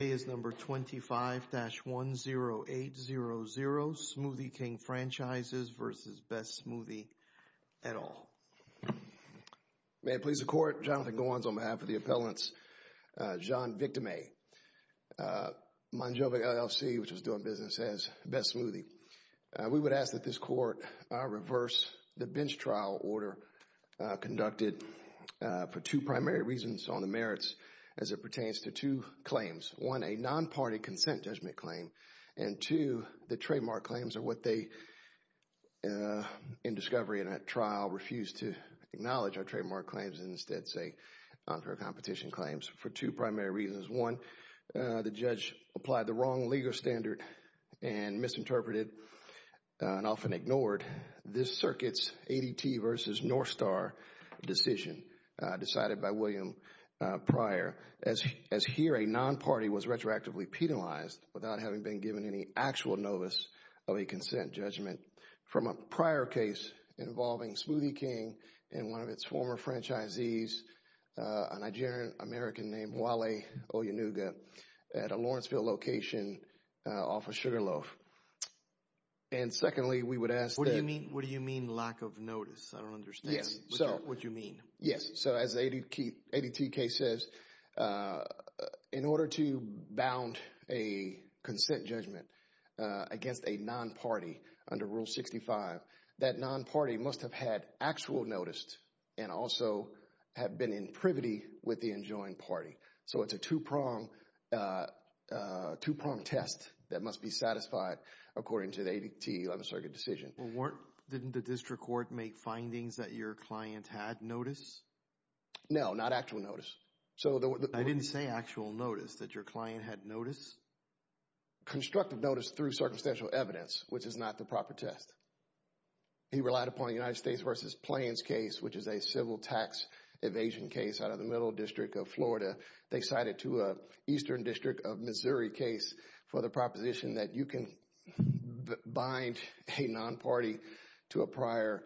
Today is number 25-10800, Smoothie King Franchises v. Best Smoothie, et al. May it please the Court, Jonathan Gowans on behalf of the appellants, Jean Victime, Monjove LLC, which is doing business as Best Smoothie. We would ask that this Court reverse the bench trial order conducted for two primary reasons on the merits as it pertains to two claims, one, a non-party consent judgment claim, and two, the trademark claims are what they, in discovery in that trial, refused to acknowledge our trademark claims and instead say non-fair competition claims for two primary reasons. One, the judge applied the wrong legal standard and misinterpreted and often ignored this circuit's ADT v. Northstar decision decided by William Pryor, as here a non-party was retroactively penalized without having been given any actual notice of a consent judgment from a prior case involving Smoothie King and one of its former franchisees, a Nigerian American named Wale Oyanuga, at a Lawrenceville location off of Sugarloaf. And secondly, we would ask that- What do you mean, what do you mean lack of notice? I don't understand. Yes, so- What do you mean? Yes, so as ADT case says, in order to bound a consent judgment against a non-party under Rule 65, that non-party must have had actual notice and also have been in privity with the enjoined party. So it's a two-pronged test that must be satisfied according to the ADT 11th Circuit decision. Well, weren't, didn't the district court make findings that your client had notice? No, not actual notice. So the- I didn't say actual notice, that your client had notice? Constructive notice through circumstantial evidence, which is not the proper test. He relied upon the United States v. Plains case, which is a civil tax evasion case out of the Middle District of Florida. They cited to a Eastern District of Missouri case for the proposition that you can bind a non-party to a prior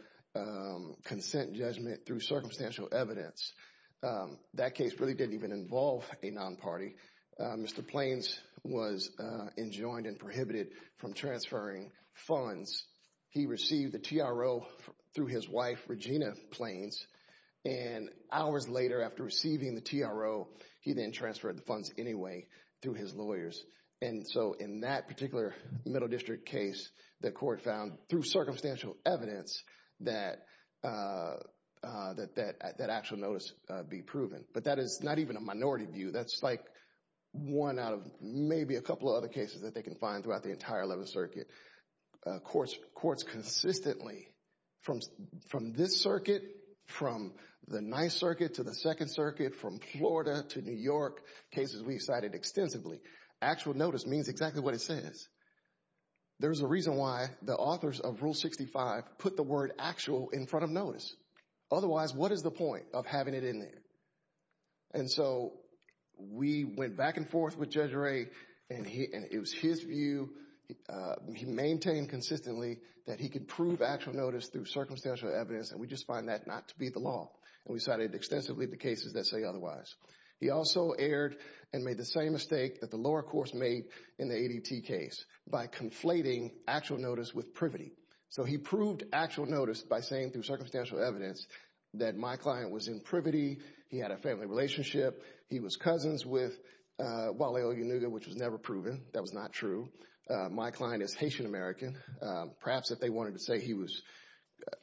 consent judgment through circumstantial evidence. That case really didn't even involve a non-party. Mr. Plains was enjoined and prohibited from transferring funds. He received the TRO through his wife, Regina Plains, and hours later after receiving the TRO, he then transferred the funds anyway through his lawyers. And so in that particular Middle District case, the court found through circumstantial evidence that that actual notice be proven. But that is not even a minority view. That's like one out of maybe a couple of other cases that they can find throughout the entire 11th Circuit. Courts consistently, from this circuit, from the 9th Circuit to the 2nd Circuit, from Florida to New York, cases we've cited extensively, actual notice means exactly what it says. There's a reason why the authors of Rule 65 put the word actual in front of notice. Otherwise, what is the point of having it in there? And so we went back and forth with Judge Ray, and it was his view, he maintained consistently that he could prove actual notice through circumstantial evidence, and we just find that not to be the law, and we cited extensively the cases that say otherwise. He also erred and made the same mistake that the lower course made in the ADT case by conflating actual notice with privity. So he proved actual notice by saying through circumstantial evidence that my client was in privity, he had a family relationship, he was cousins with Wally Oyunuga, which was never proven. That was not true. My client is Haitian American. Perhaps if they wanted to say he was,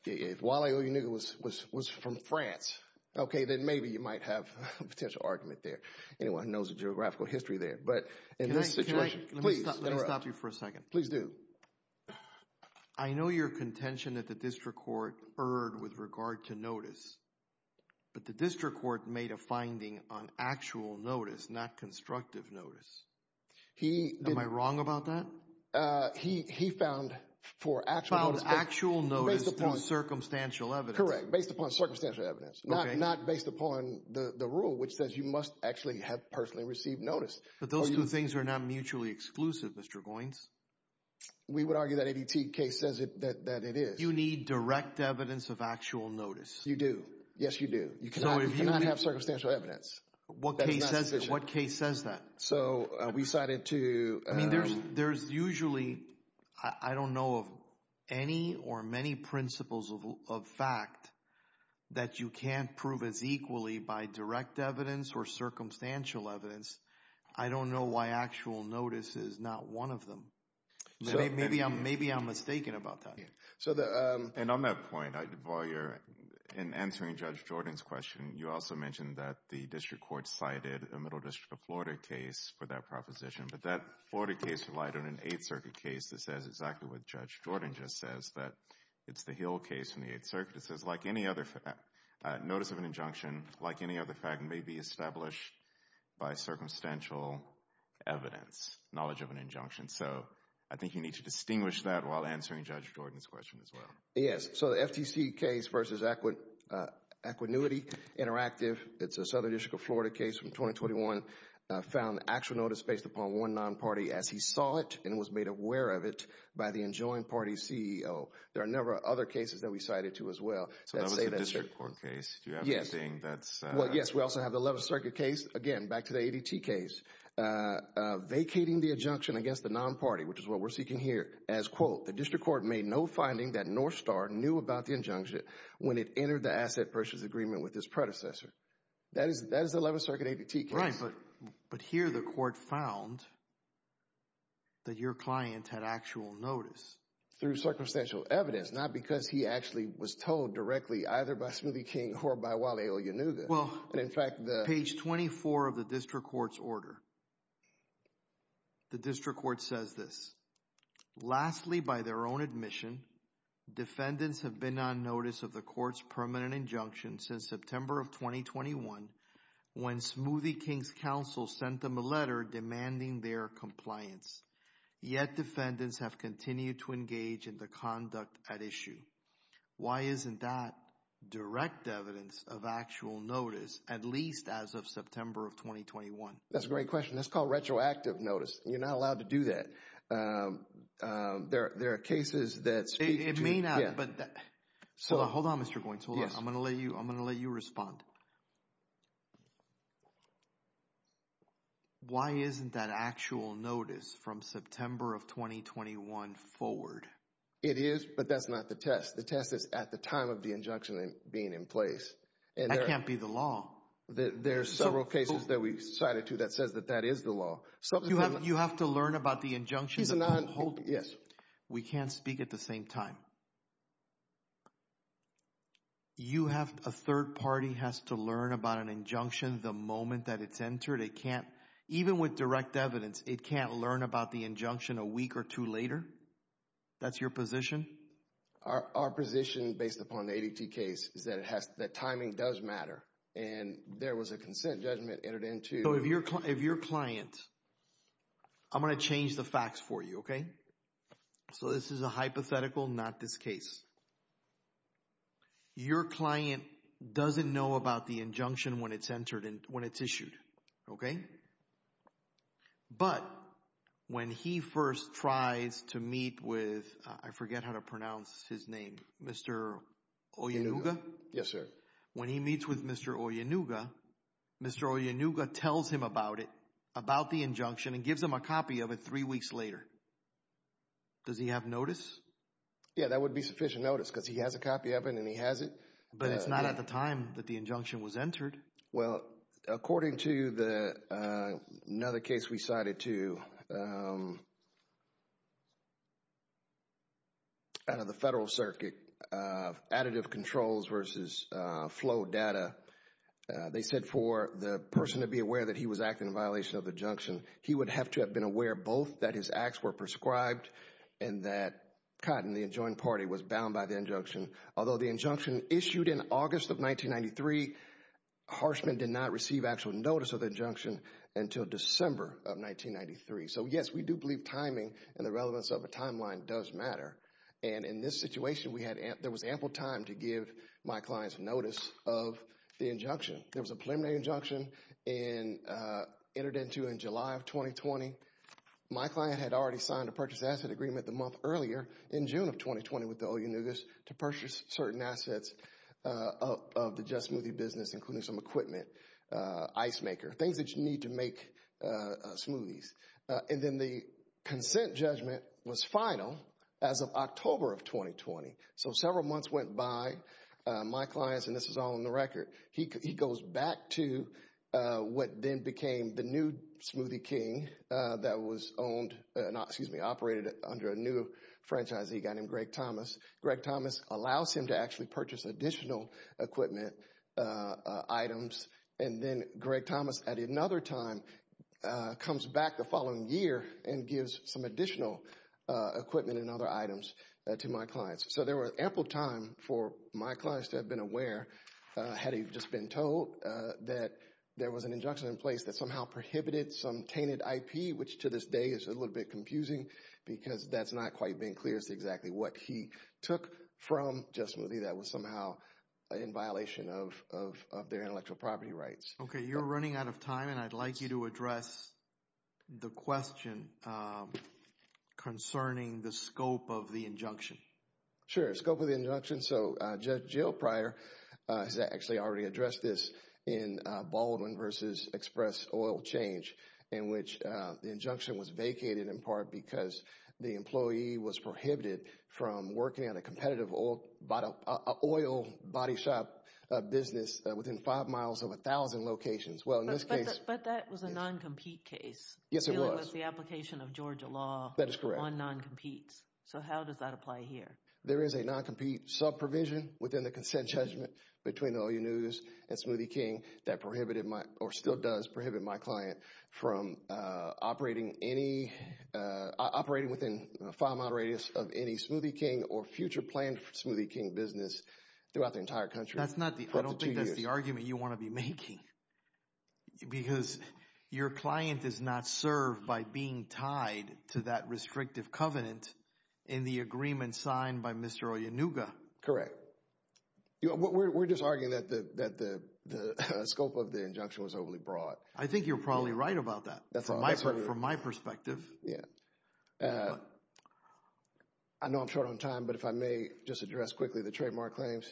if Wally Oyunuga was from France, okay, then maybe you might have a potential argument there. Anyone who knows the geographical history there. But in this situation, please interrupt. Let me stop you for a second. Please do. I know your contention that the district court erred with regard to notice, but the district court made a finding on actual notice, not constructive notice. He did. Am I wrong about that? He found for actual notice. Found actual notice through circumstantial evidence. Correct. Based upon circumstantial evidence. Okay. Not based upon the rule, which says you must actually have personally received notice. But those two things are not mutually exclusive, Mr. Goins. We would argue that ADT case says that it is. You need direct evidence of actual notice. You do. Yes, you do. You cannot have circumstantial evidence. What case says that? So we decided to... There's usually, I don't know of any or many principles of fact that you can't prove as equally by direct evidence or circumstantial evidence. I don't know why actual notice is not one of them. Maybe I'm mistaken about that. And on that point, while you're answering Judge Jordan's question, you also mentioned that the district court cited a Middle District of Florida case for that proposition. But that Florida case relied on an Eighth Circuit case that says exactly what Judge Jordan just says, that it's the Hill case from the Eighth Circuit. It says, like any other fact, notice of an injunction, like any other fact, may be established by circumstantial evidence, knowledge of an injunction. So I think you need to distinguish that while answering Judge Jordan's question as well. Yes. So the FTC case versus Equanuity Interactive, it's a Southern District of Florida case from 2021, found actual notice based upon one non-party as he saw it and was made aware of it by the enjoined party CEO. There are a number of other cases that we cited too as well that say that's true. So that was the district court case. Do you have anything that's... Yes. Yes. We also have the Eleventh Circuit case. Again, back to the ADT case, vacating the injunction against the non-party, which is what we're seeking here, as quote, the district court made no finding that Northstar knew about the injunction when it entered the asset purchase agreement with his predecessor. That is the Eleventh Circuit ADT case. Right. But here the court found that your client had actual notice. Through circumstantial evidence, not because he actually was told directly either by Smoothie King or by Wally Oyunuga. Well, page 24 of the district court's order, the district court says this, lastly, by their own admission, defendants have been on notice of the court's permanent injunction since September of 2021 when Smoothie King's counsel sent them a letter demanding their compliance. Yet defendants have continued to engage in the conduct at issue. Why isn't that direct evidence of actual notice, at least as of September of 2021? That's a great question. That's called retroactive notice. You're not allowed to do that. There are cases that speak to... It may not, but... Yeah. Hold on, Mr. Goins. Hold on. Yes. I'm going to let you respond. Why isn't that actual notice from September of 2021 forward? It is, but that's not the test. The test is at the time of the injunction being in place. That can't be the law. There's several cases that we've cited to that says that that is the law. You have to learn about the injunction... He's a non... Hold on. Yes. We can't speak at the same time. You have... A third party has to learn about an injunction the moment that it's entered? It can't... That's your position? Our position, based upon the ADT case, is that timing does matter, and there was a consent judgment entered into... If your client... I'm going to change the facts for you. This is a hypothetical, not this case. Your client doesn't know about the injunction when it's issued, but when he first tries to meet with, I forget how to pronounce his name, Mr. Oyenuga? Yes, sir. When he meets with Mr. Oyenuga, Mr. Oyenuga tells him about it, about the injunction, and gives him a copy of it three weeks later. Does he have notice? Yeah, that would be sufficient notice, because he has a copy of it, and he has it. But it's not at the time that the injunction was entered. Well, according to another case we cited, too, out of the Federal Circuit, Additive Controls versus Flow Data, they said for the person to be aware that he was acting in violation of the injunction, he would have to have been aware both that his acts were prescribed and that Cotton, the adjoined party, was bound by the injunction. Although the injunction issued in August of 1993, Harshman did not receive actual notice of the injunction until December of 1993. So yes, we do believe timing and the relevance of a timeline does matter. And in this situation, there was ample time to give my client's notice of the injunction. There was a preliminary injunction entered into in July of 2020. My client had already signed a purchase asset agreement the month earlier, in June of 2020, with the Oyunugas, to purchase certain assets of the Jet Smoothie business, including some equipment, ice maker, things that you need to make smoothies. And then the consent judgment was final as of October of 2020. So several months went by. My client's, and this is all on the record, he goes back to what then became the new Smoothie King that was owned, not, excuse me, operated under a new franchise that he got named Greg Thomas. Greg Thomas allows him to actually purchase additional equipment, items, and then Greg Thomas at another time comes back the following year and gives some additional equipment and other items to my clients. So there was ample time for my clients to have been aware, had he just been told that there was an injunction in place that somehow prohibited some tainted IP, which to this day is a little bit confusing because that's not quite been clear as to exactly what he took from Jet Smoothie that was somehow in violation of their intellectual property rights. Okay. You're running out of time and I'd like you to address the question concerning the scope of the injunction. Sure. The scope of the injunction. So Judge Jill Pryor has actually already addressed this in Baldwin versus Express Oil Change, in which the injunction was vacated in part because the employee was prohibited from working on a competitive oil body shop business within five miles of 1,000 locations. Well in this case- But that was a non-compete case. Yes, it was. Dealing with the application of Georgia law- That is correct. On non-competes. So how does that apply here? There is a non-compete sub-provision within the consent judgment between the OU News and Smoothie King that prohibited my, or still does prohibit my client from operating any, operating within a five mile radius of any Smoothie King or future planned Smoothie King business throughout the entire country for up to two years. That's not the, I don't think that's the argument you want to be making because your client is not served by being tied to that restrictive covenant in the agreement signed by Mr. Oyanuga. Correct. We're just arguing that the scope of the injunction was overly broad. I think you're probably right about that. That's all I say. From my perspective. Yeah. I know I'm short on time, but if I may just address quickly the trademark claims.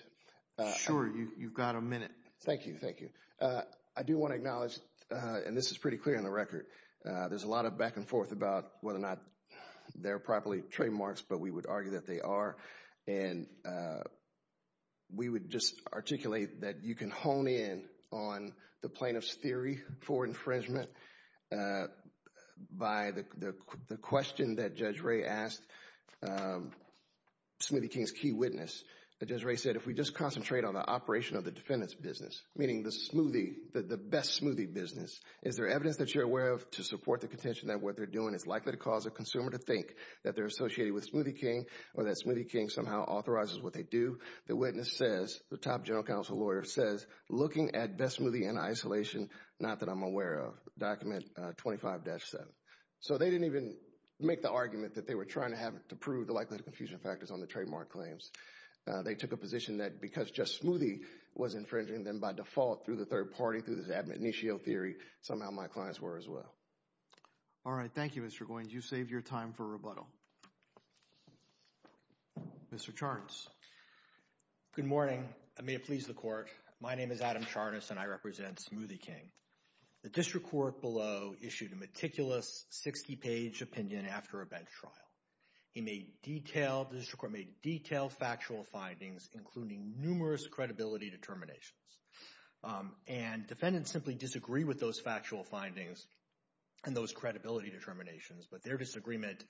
Sure. You've got a minute. Thank you. Thank you. I do want to acknowledge, and this is pretty clear on the record, there's a lot of back and forth about whether or not they're properly trademarks, but we would argue that they are. And we would just articulate that you can hone in on the plaintiff's theory for infringement by the question that Judge Ray asked, Smoothie King's key witness. Judge Ray said, if we just concentrate on the operation of the defendant's business, meaning the smoothie, the best smoothie business, is there evidence that you're aware of to support the contention that what they're doing is likely to cause a consumer to think that they're associated with Smoothie King or that Smoothie King somehow authorizes what they do? The witness says, the top general counsel lawyer says, looking at best smoothie in isolation, not that I'm aware of, document 25-7. So they didn't even make the argument that they were trying to have to prove the likelihood of confusion factors on the trademark claims. They took a position that because just Smoothie was infringing them by default through the third party, through this admonitio theory, somehow my clients were as well. All right. Thank you, Mr. Goins. And you saved your time for rebuttal. Mr. Charnas. Good morning. I may have pleased the court. My name is Adam Charnas, and I represent Smoothie King. The district court below issued a meticulous 60-page opinion after a bench trial. He made detailed, the district court made detailed factual findings, including numerous credibility determinations. And defendants simply disagree with those factual findings and those credibility determinations, but their disagreement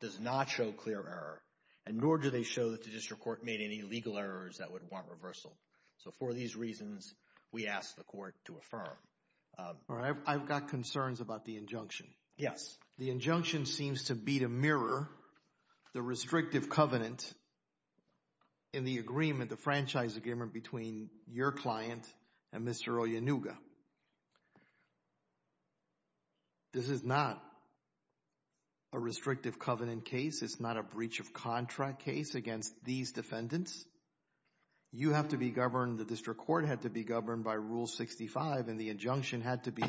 does not show clear error, and nor do they show that the district court made any legal errors that would want reversal. So for these reasons, we ask the court to affirm. All right. I've got concerns about the injunction. Yes. The injunction seems to be to mirror the restrictive covenant in the agreement, the franchise agreement between your client and Mr. Oyanuga. This is not a restrictive covenant case. It's not a breach of contract case against these defendants. You have to be governed, the district court had to be governed by Rule 65, and the injunction had to be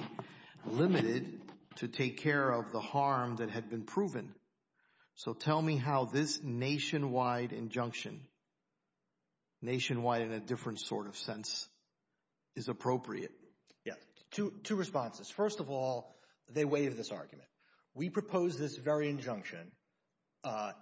limited to take care of the harm that had been proven. So tell me how this nationwide injunction, nationwide in a different sort of sense, is appropriate. Yes. Two responses. First of all, they waive this argument. We propose this very injunction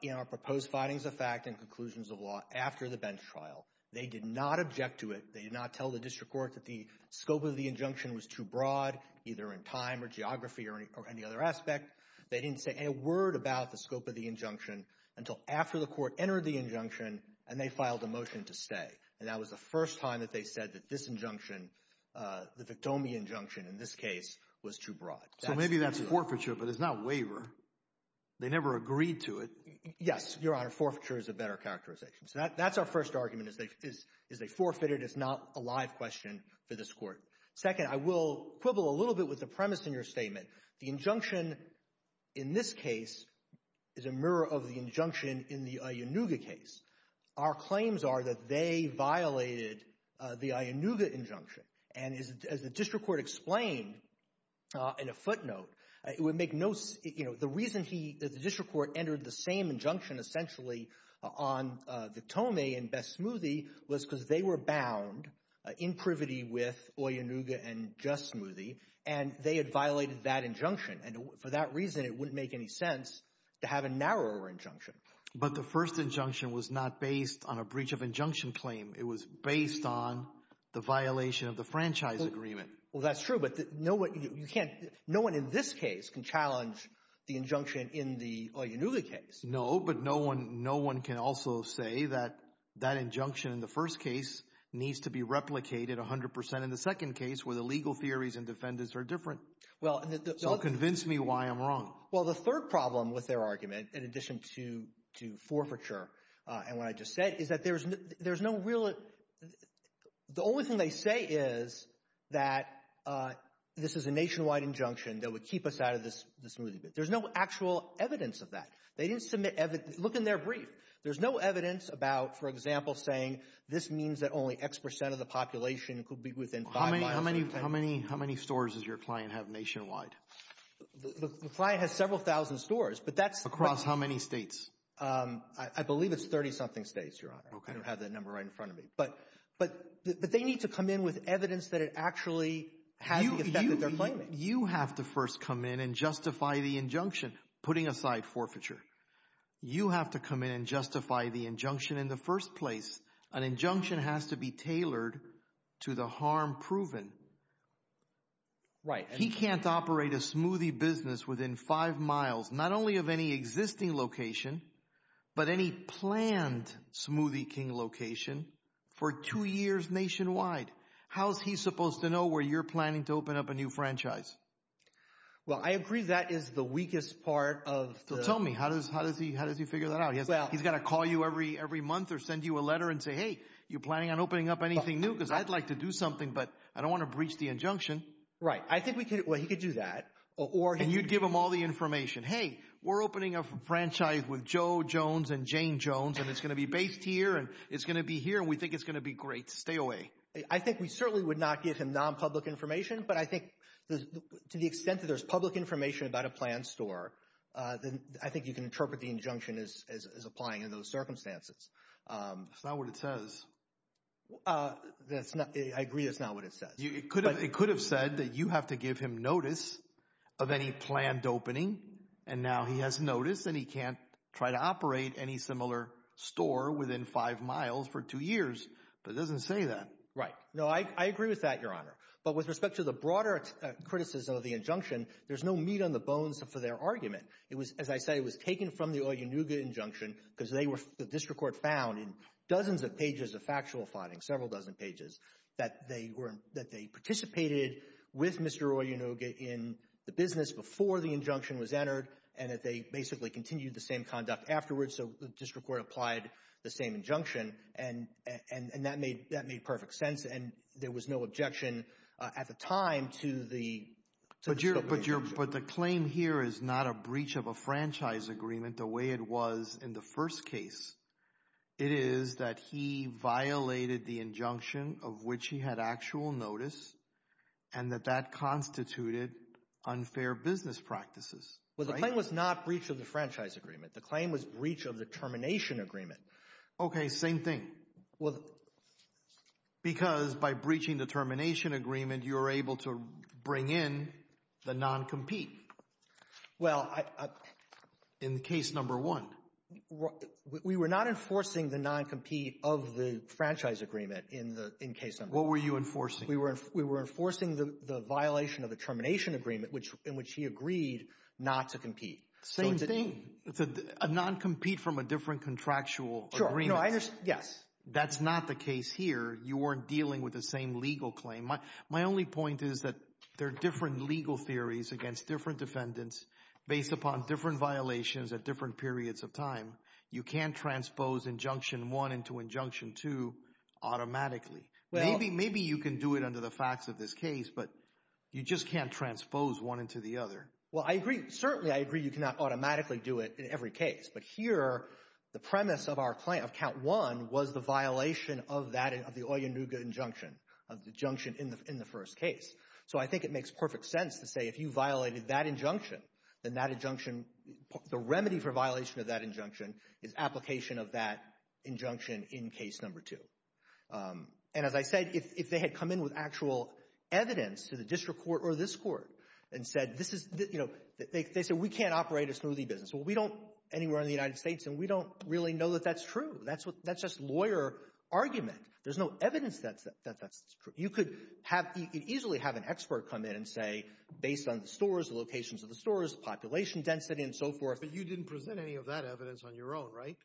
in our proposed findings of fact and conclusions of law after the bench trial. They did not object to it. They did not tell the district court that the scope of the injunction was too broad, either in time or geography or any other aspect. They didn't say a word about the scope of the injunction until after the court entered the injunction and they filed a motion to stay. And that was the first time that they said that this injunction, the Victomi injunction in this case, was too broad. So maybe that's forfeiture, but it's not waiver. They never agreed to it. Yes, Your Honor. Forfeiture is a better characterization. So that's our first argument, is they forfeited. It's not a live question for this Court. Second, I will quibble a little bit with the premise in your statement. The injunction in this case is a mirror of the injunction in the Oyenuga case. Our claims are that they violated the Oyenuga injunction. And as the district court explained in a footnote, it would make no — you know, the reason he — the district court entered the same injunction, essentially, on Victomi and Best Smoothie was because they were bound in privity with Oyenuga and Just Smoothie, and they had violated that injunction. And for that reason, it wouldn't make any sense to have a narrower injunction. But the first injunction was not based on a breach of injunction claim. It was based on the violation of the franchise agreement. Well, that's true, but no one — you can't — no one in this case can challenge the injunction in the Oyenuga case. No, but no one — no one can also say that that injunction in the first case needs to be replicated 100 percent in the second case, where the legal theories and defendants are different. Well, and the — So convince me why I'm wrong. Well, the third problem with their argument, in addition to forfeiture and what I just said, is that there's no real — the only thing they say is that this is a nationwide injunction that would keep us out of the smoothie business. There's no actual evidence of that. They didn't submit — look in their brief. There's no evidence about, for example, saying this means that only X percent of the population could be within five miles of the — How many — how many — how many stores does your client have nationwide? The client has several thousand stores, but that's — Across how many states? I believe it's 30-something states, Your Honor. Okay. I don't have that number right in front of me, but — but they need to come in with evidence that it actually has the effect that they're claiming. You have to first come in and justify the injunction, putting aside forfeiture. You have to come in and justify the injunction in the first place. An injunction has to be tailored to the harm proven. He can't operate a smoothie business within five miles, not only of any existing location, but any planned Smoothie King location, for two years nationwide. How is he supposed to know where you're planning to open up a new franchise? Well, I agree that is the weakest part of the — So tell me, how does he — how does he figure that out? He's got to call you every month or send you a letter and say, hey, you planning on opening up anything new? Because I'd like to do something, but I don't want to breach the injunction. Right. I think we could — well, he could do that, or — And you'd give him all the information. Hey, we're opening a franchise with Joe Jones and Jane Jones, and it's going to be based here, and it's going to be here, and we think it's going to be great. Stay away. I think we certainly would not give him non-public information, but I think to the extent that there's public information about a planned store, I think you can interpret the injunction as applying in those circumstances. It's not what it says. I agree it's not what it says. It could have said that you have to give him notice of any planned opening, and now he has notice, and he can't try to operate any similar store within five miles for two years, but it doesn't say that. Right. No, I agree with that, Your Honor. But with respect to the broader criticism of the injunction, there's no meat on the bones for their argument. It was, as I say, it was taken from the Oyunuga injunction, because the district court found in dozens of pages of factual fighting, several dozen pages, that they participated with Mr. Oyunuga in the business before the injunction was entered, and that they basically continued the same conduct afterwards. So the district court applied the same injunction, and that made perfect sense, and there was no objection at the time to the But the claim here is not a breach of a franchise agreement, the way it was in the first case. It is that he violated the injunction of which he had actual notice, and that that constituted unfair business practices. Well, the claim was not breach of the franchise agreement. The claim was breach of the termination agreement. Okay, same thing. Well, because by breaching the termination agreement, you were able to bring in the non-compete. Well, in case number one. We were not enforcing the non-compete of the franchise agreement in case number one. What were you enforcing? We were enforcing the violation of the termination agreement, which in which he agreed not to compete. Same thing. It's a non-compete from a different contractual agreement. Yes. That's not the case here. You weren't dealing with the same legal claim. My only point is that there are different legal theories against different defendants based upon different violations at different periods of time. You can't transpose injunction one into injunction two automatically. Maybe you can do it under the facts of this case, but you just can't transpose one into the other. Well, I agree. Certainly, I agree you cannot automatically do it in every case, but here, the premise of our claim, of count one, was the violation of that, of the Oyenuga injunction, of the injunction in the first case. So I think it makes perfect sense to say, if you violated that injunction, then that injunction, the remedy for violation of that injunction is application of that injunction in case number two. And as I said, if they had come in with actual evidence to the district court or this court and said, this is, you know, they said, we can't operate a smoothie business. Well, we don't anywhere in the United States, and we don't really know that that's true. That's just lawyer argument. There's no evidence that that's true. You could have, you could easily have an expert come in and say, based on the stores, the locations of the stores, population density and so forth. But you didn't present any of that evidence on your own, right?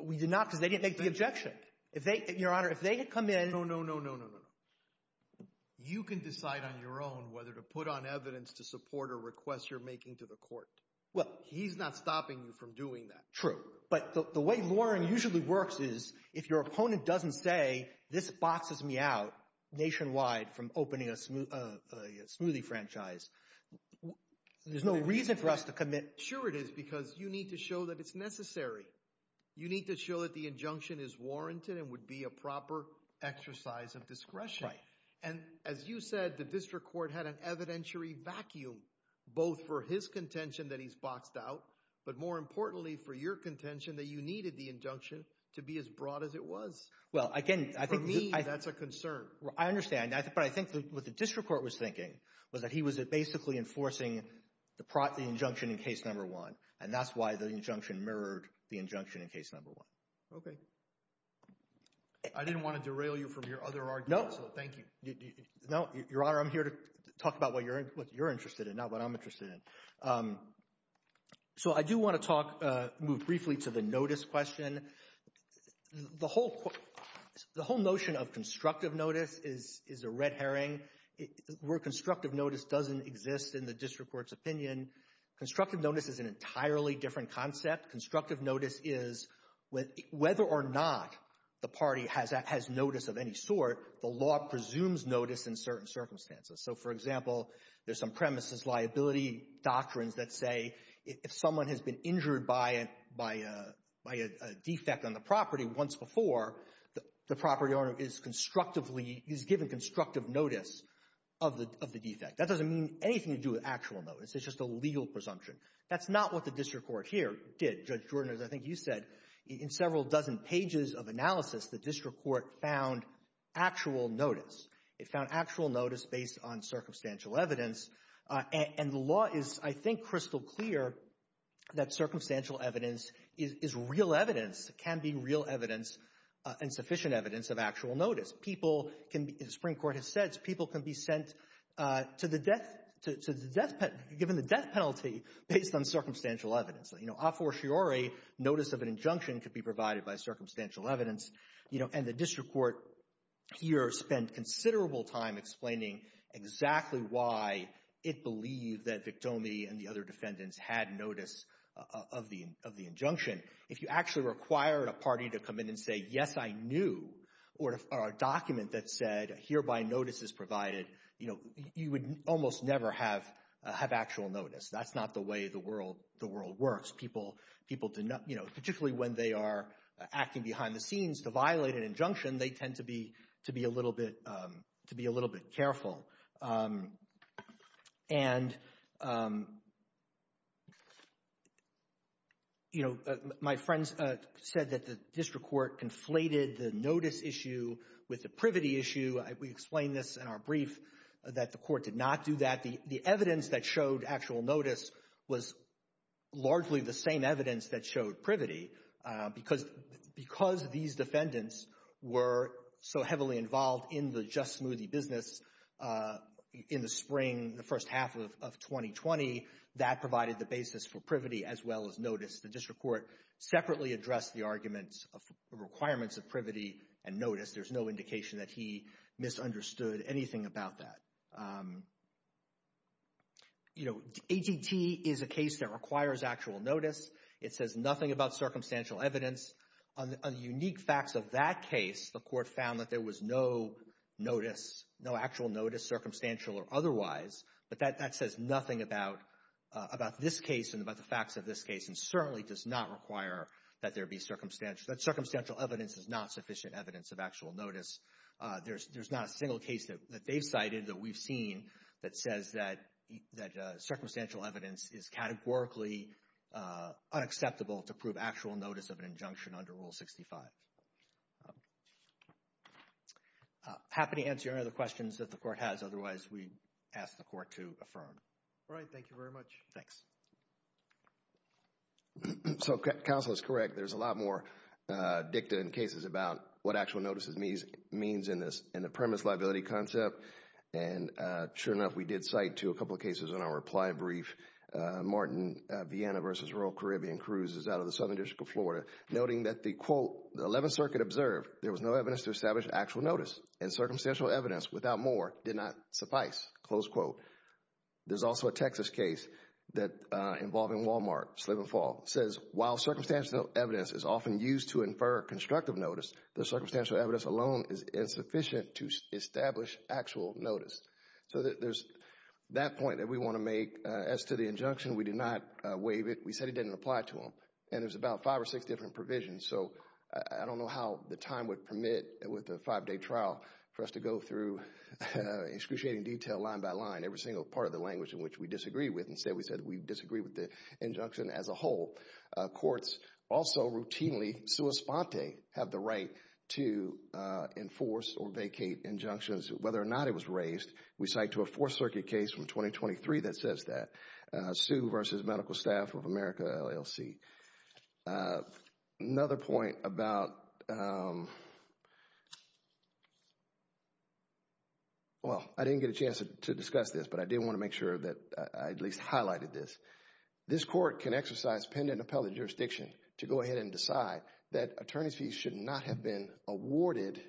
We did not because they didn't make the objection. If they, Your Honor, if they had come in. No, no, no, no, no, no, no. You can decide on your own whether to put on evidence to support a request you're making to the court. Well, he's not stopping you from doing that. True. But the way lawyering usually works is, if your opponent doesn't say, this boxes me out nationwide from opening a smoothie franchise, there's no reason for us to commit. Sure it is, because you need to show that it's necessary. You need to show that the injunction is warranted and would be a proper exercise of discretion. And as you said, the district court had an evidentiary vacuum, both for his contention that he's boxed out, but more importantly, for your contention that you needed the injunction to be as broad as it was. Well, again, I think... For me, that's a concern. I understand. But I think what the district court was thinking was that he was basically enforcing the injunction in case number one. And that's why the injunction mirrored the injunction in case number one. Okay. I didn't want to derail you from your other argument, so thank you. No, Your Honor, I'm here to talk about what you're interested in, not what I'm interested in. So I do want to move briefly to the notice question. The whole notion of constructive notice is a red herring. Where constructive notice doesn't exist in the district court's opinion, constructive notice is an entirely different concept. Constructive notice is whether or not the party has notice of any sort, the law presumes notice in certain circumstances. So, for example, there's some premises liability doctrines that say if someone has been injured by a defect on the property once before, the property owner is constructively, is given constructive notice of the defect. That doesn't mean anything to do with actual notice. It's just a legal presumption. That's not what the district court here did. Judge Jordan, as I think you said, in several dozen pages of analysis, the district court found actual notice. It found actual notice based on circumstantial evidence. And the law is, I think, crystal clear that circumstantial evidence is real evidence, can be real evidence and sufficient evidence of actual notice. People can, as the Supreme Court has said, people can be sent to the death, given the death penalty, based on circumstantial evidence. A fortiori notice of an injunction could be provided by circumstantial evidence. And the district court here spent considerable time explaining exactly why it believed that Victomi and the other defendants had notice of the injunction. If you actually required a party to come in and say, yes, I knew, or a document that said, hereby notice is provided, you would almost never have actual notice. That's not the way the world works. People, particularly when they are acting behind the scenes, to violate an injunction, they tend to be a little bit careful. And, you know, my friends said that the district court conflated the notice issue with the privity issue. We explained this in our brief, that the court did not do that. The evidence that showed actual notice was largely the same evidence that showed privity. Because these defendants were so heavily involved in the Just Smoothie business in the spring, the first half of 2020, that provided the basis for privity as well as notice. The district court separately addressed the arguments of requirements of privity and notice. There's no indication that he misunderstood anything about that. You know, ATT is a case that requires actual notice. It says nothing about circumstantial evidence. On the unique facts of that case, the court found that there was no notice, no actual notice, circumstantial or otherwise. But that says nothing about this case and about the facts of this case, and certainly does not require that there be circumstantial. That circumstantial evidence is not sufficient evidence of actual notice. There's not a single case that they've cited that we've seen that says that circumstantial evidence is categorically unacceptable to prove actual notice of an injunction under Rule 65. Happy to answer any other questions that the court has. Otherwise, we ask the court to affirm. All right, thank you very much. Thanks. So counsel is correct. There's a lot more dicta in cases about what actual notices means in the premise liability concept. And sure enough, we did cite to a couple of cases in our reply brief, Martin, Vienna versus Rural Caribbean Cruises out of the Southern District of Florida, noting that the quote, the 11th Circuit observed there was no evidence to establish actual notice and circumstantial evidence without more did not suffice. Close quote. There's also a Texas case involving Walmart, Slip and Fall, says while circumstantial evidence is often used to infer constructive notice, the circumstantial evidence alone is insufficient to establish actual notice. So there's that point that we want to make as to the injunction. We did not waive it. We said it didn't apply to them. And there's about five or six different provisions. So I don't know how the time would permit with a five-day trial for us to go through excruciating detail line by line, every single part of the language in which we disagree with. Instead, we said we disagree with the injunction as a whole. Courts also routinely, sua sponte, have the right to enforce or vacate injunctions whether or not it was raised. We cite to a Fourth Circuit case from 2023 that says that. Sue versus Medical Staff of America LLC. Another point about, well, I didn't get a chance to discuss this, but I did want to make sure that I at least highlighted this. This court can exercise, pen and appellate jurisdiction to go ahead and decide that attorneys fees should not have been awarded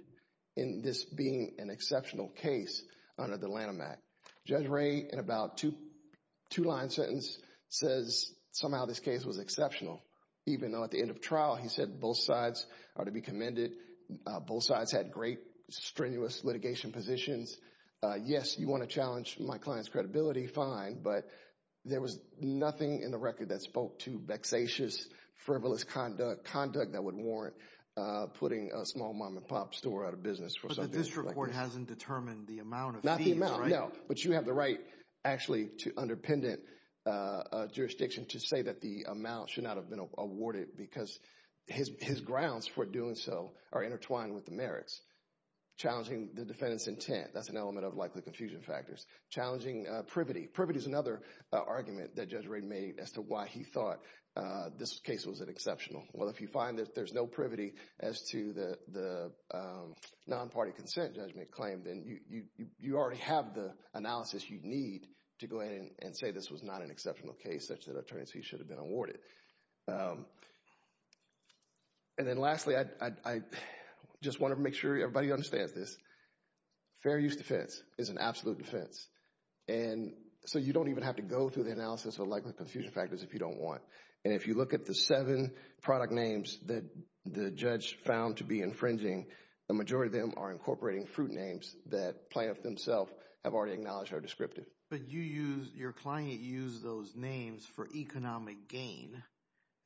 in this being an exceptional case under the Lanham Act. Judge Ray, in about two-line sentence, says somehow this case was exceptional. Even though at the end of trial, he said both sides are to be commended. Both sides had great strenuous litigation positions. Yes, you want to challenge my client's credibility, fine. But there was nothing in the record that spoke to vexatious, frivolous conduct that would warrant putting a small mom-and-pop store out of business. But the district court hasn't determined the amount of fees, right? Not the amount, no. But you have the right, actually, to under pendant jurisdiction to say that the amount should not have been awarded because his grounds for doing so are intertwined with the merits. Challenging the defendant's intent, that's an element of likely confusion factors. Challenging privity. Privity is another argument that Judge Ray made as to why he thought this case was exceptional. Well, if you find that there's no privity as to the non-party consent judgment claim, then you already have the analysis you need to go in and say this was not an exceptional case, such that an attorney should have been awarded. And then lastly, I just want to make sure everybody understands this. Fair use defense is an absolute defense. And so you don't even have to go through the analysis of likely confusion factors if you don't want. And if you look at the seven product names that the judge found to be infringing, the majority of them are incorporating fruit names that plaintiff themselves have already acknowledged are descriptive. But your client used those names for economic gain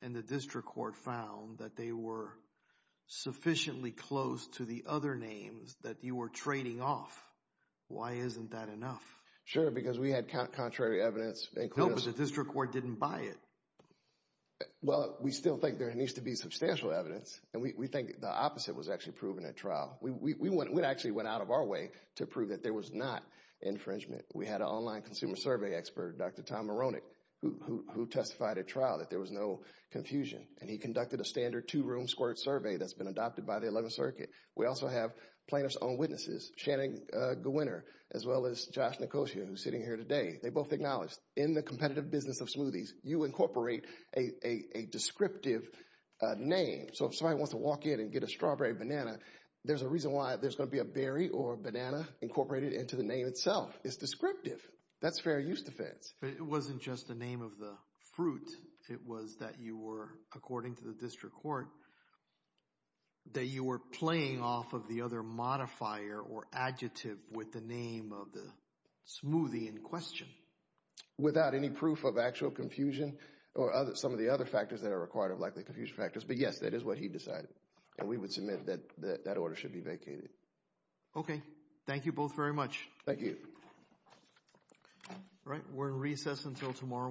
and the district court found that they were sufficiently close to the other names that you were trading off. Why isn't that enough? Sure, because we had contrary evidence. No, but the district court didn't buy it. Well, we still think there needs to be substantial evidence and we think the opposite was actually proven at trial. We actually went out of our way to prove that there was not infringement. We had an online consumer survey expert, Dr. Tom Moronic, who testified at trial that there was no confusion. And he conducted a standard two room squirt survey that's been adopted by the 11th Circuit. We also have plaintiff's own witnesses, Channing Gewinner, as well as Josh Nicosia, who's sitting here today. They both acknowledged in the competitive business of smoothies, you incorporate a descriptive name. So if somebody wants to walk in and get a strawberry banana, there's a reason why there's going to be a berry or a banana incorporated into the name itself. It's descriptive. That's fair use defense. But it wasn't just the name of the fruit. It was that you were, according to the district court, that you were playing off of the other modifier or adjective with the name of the smoothie in question. Without any proof of actual confusion or some of the other factors that are required of likely confusion factors. But yes, that is what he decided. And we would submit that that order should be vacated. Okay. Thank you both very much. Thank you. All right. We're in recess until tomorrow morning.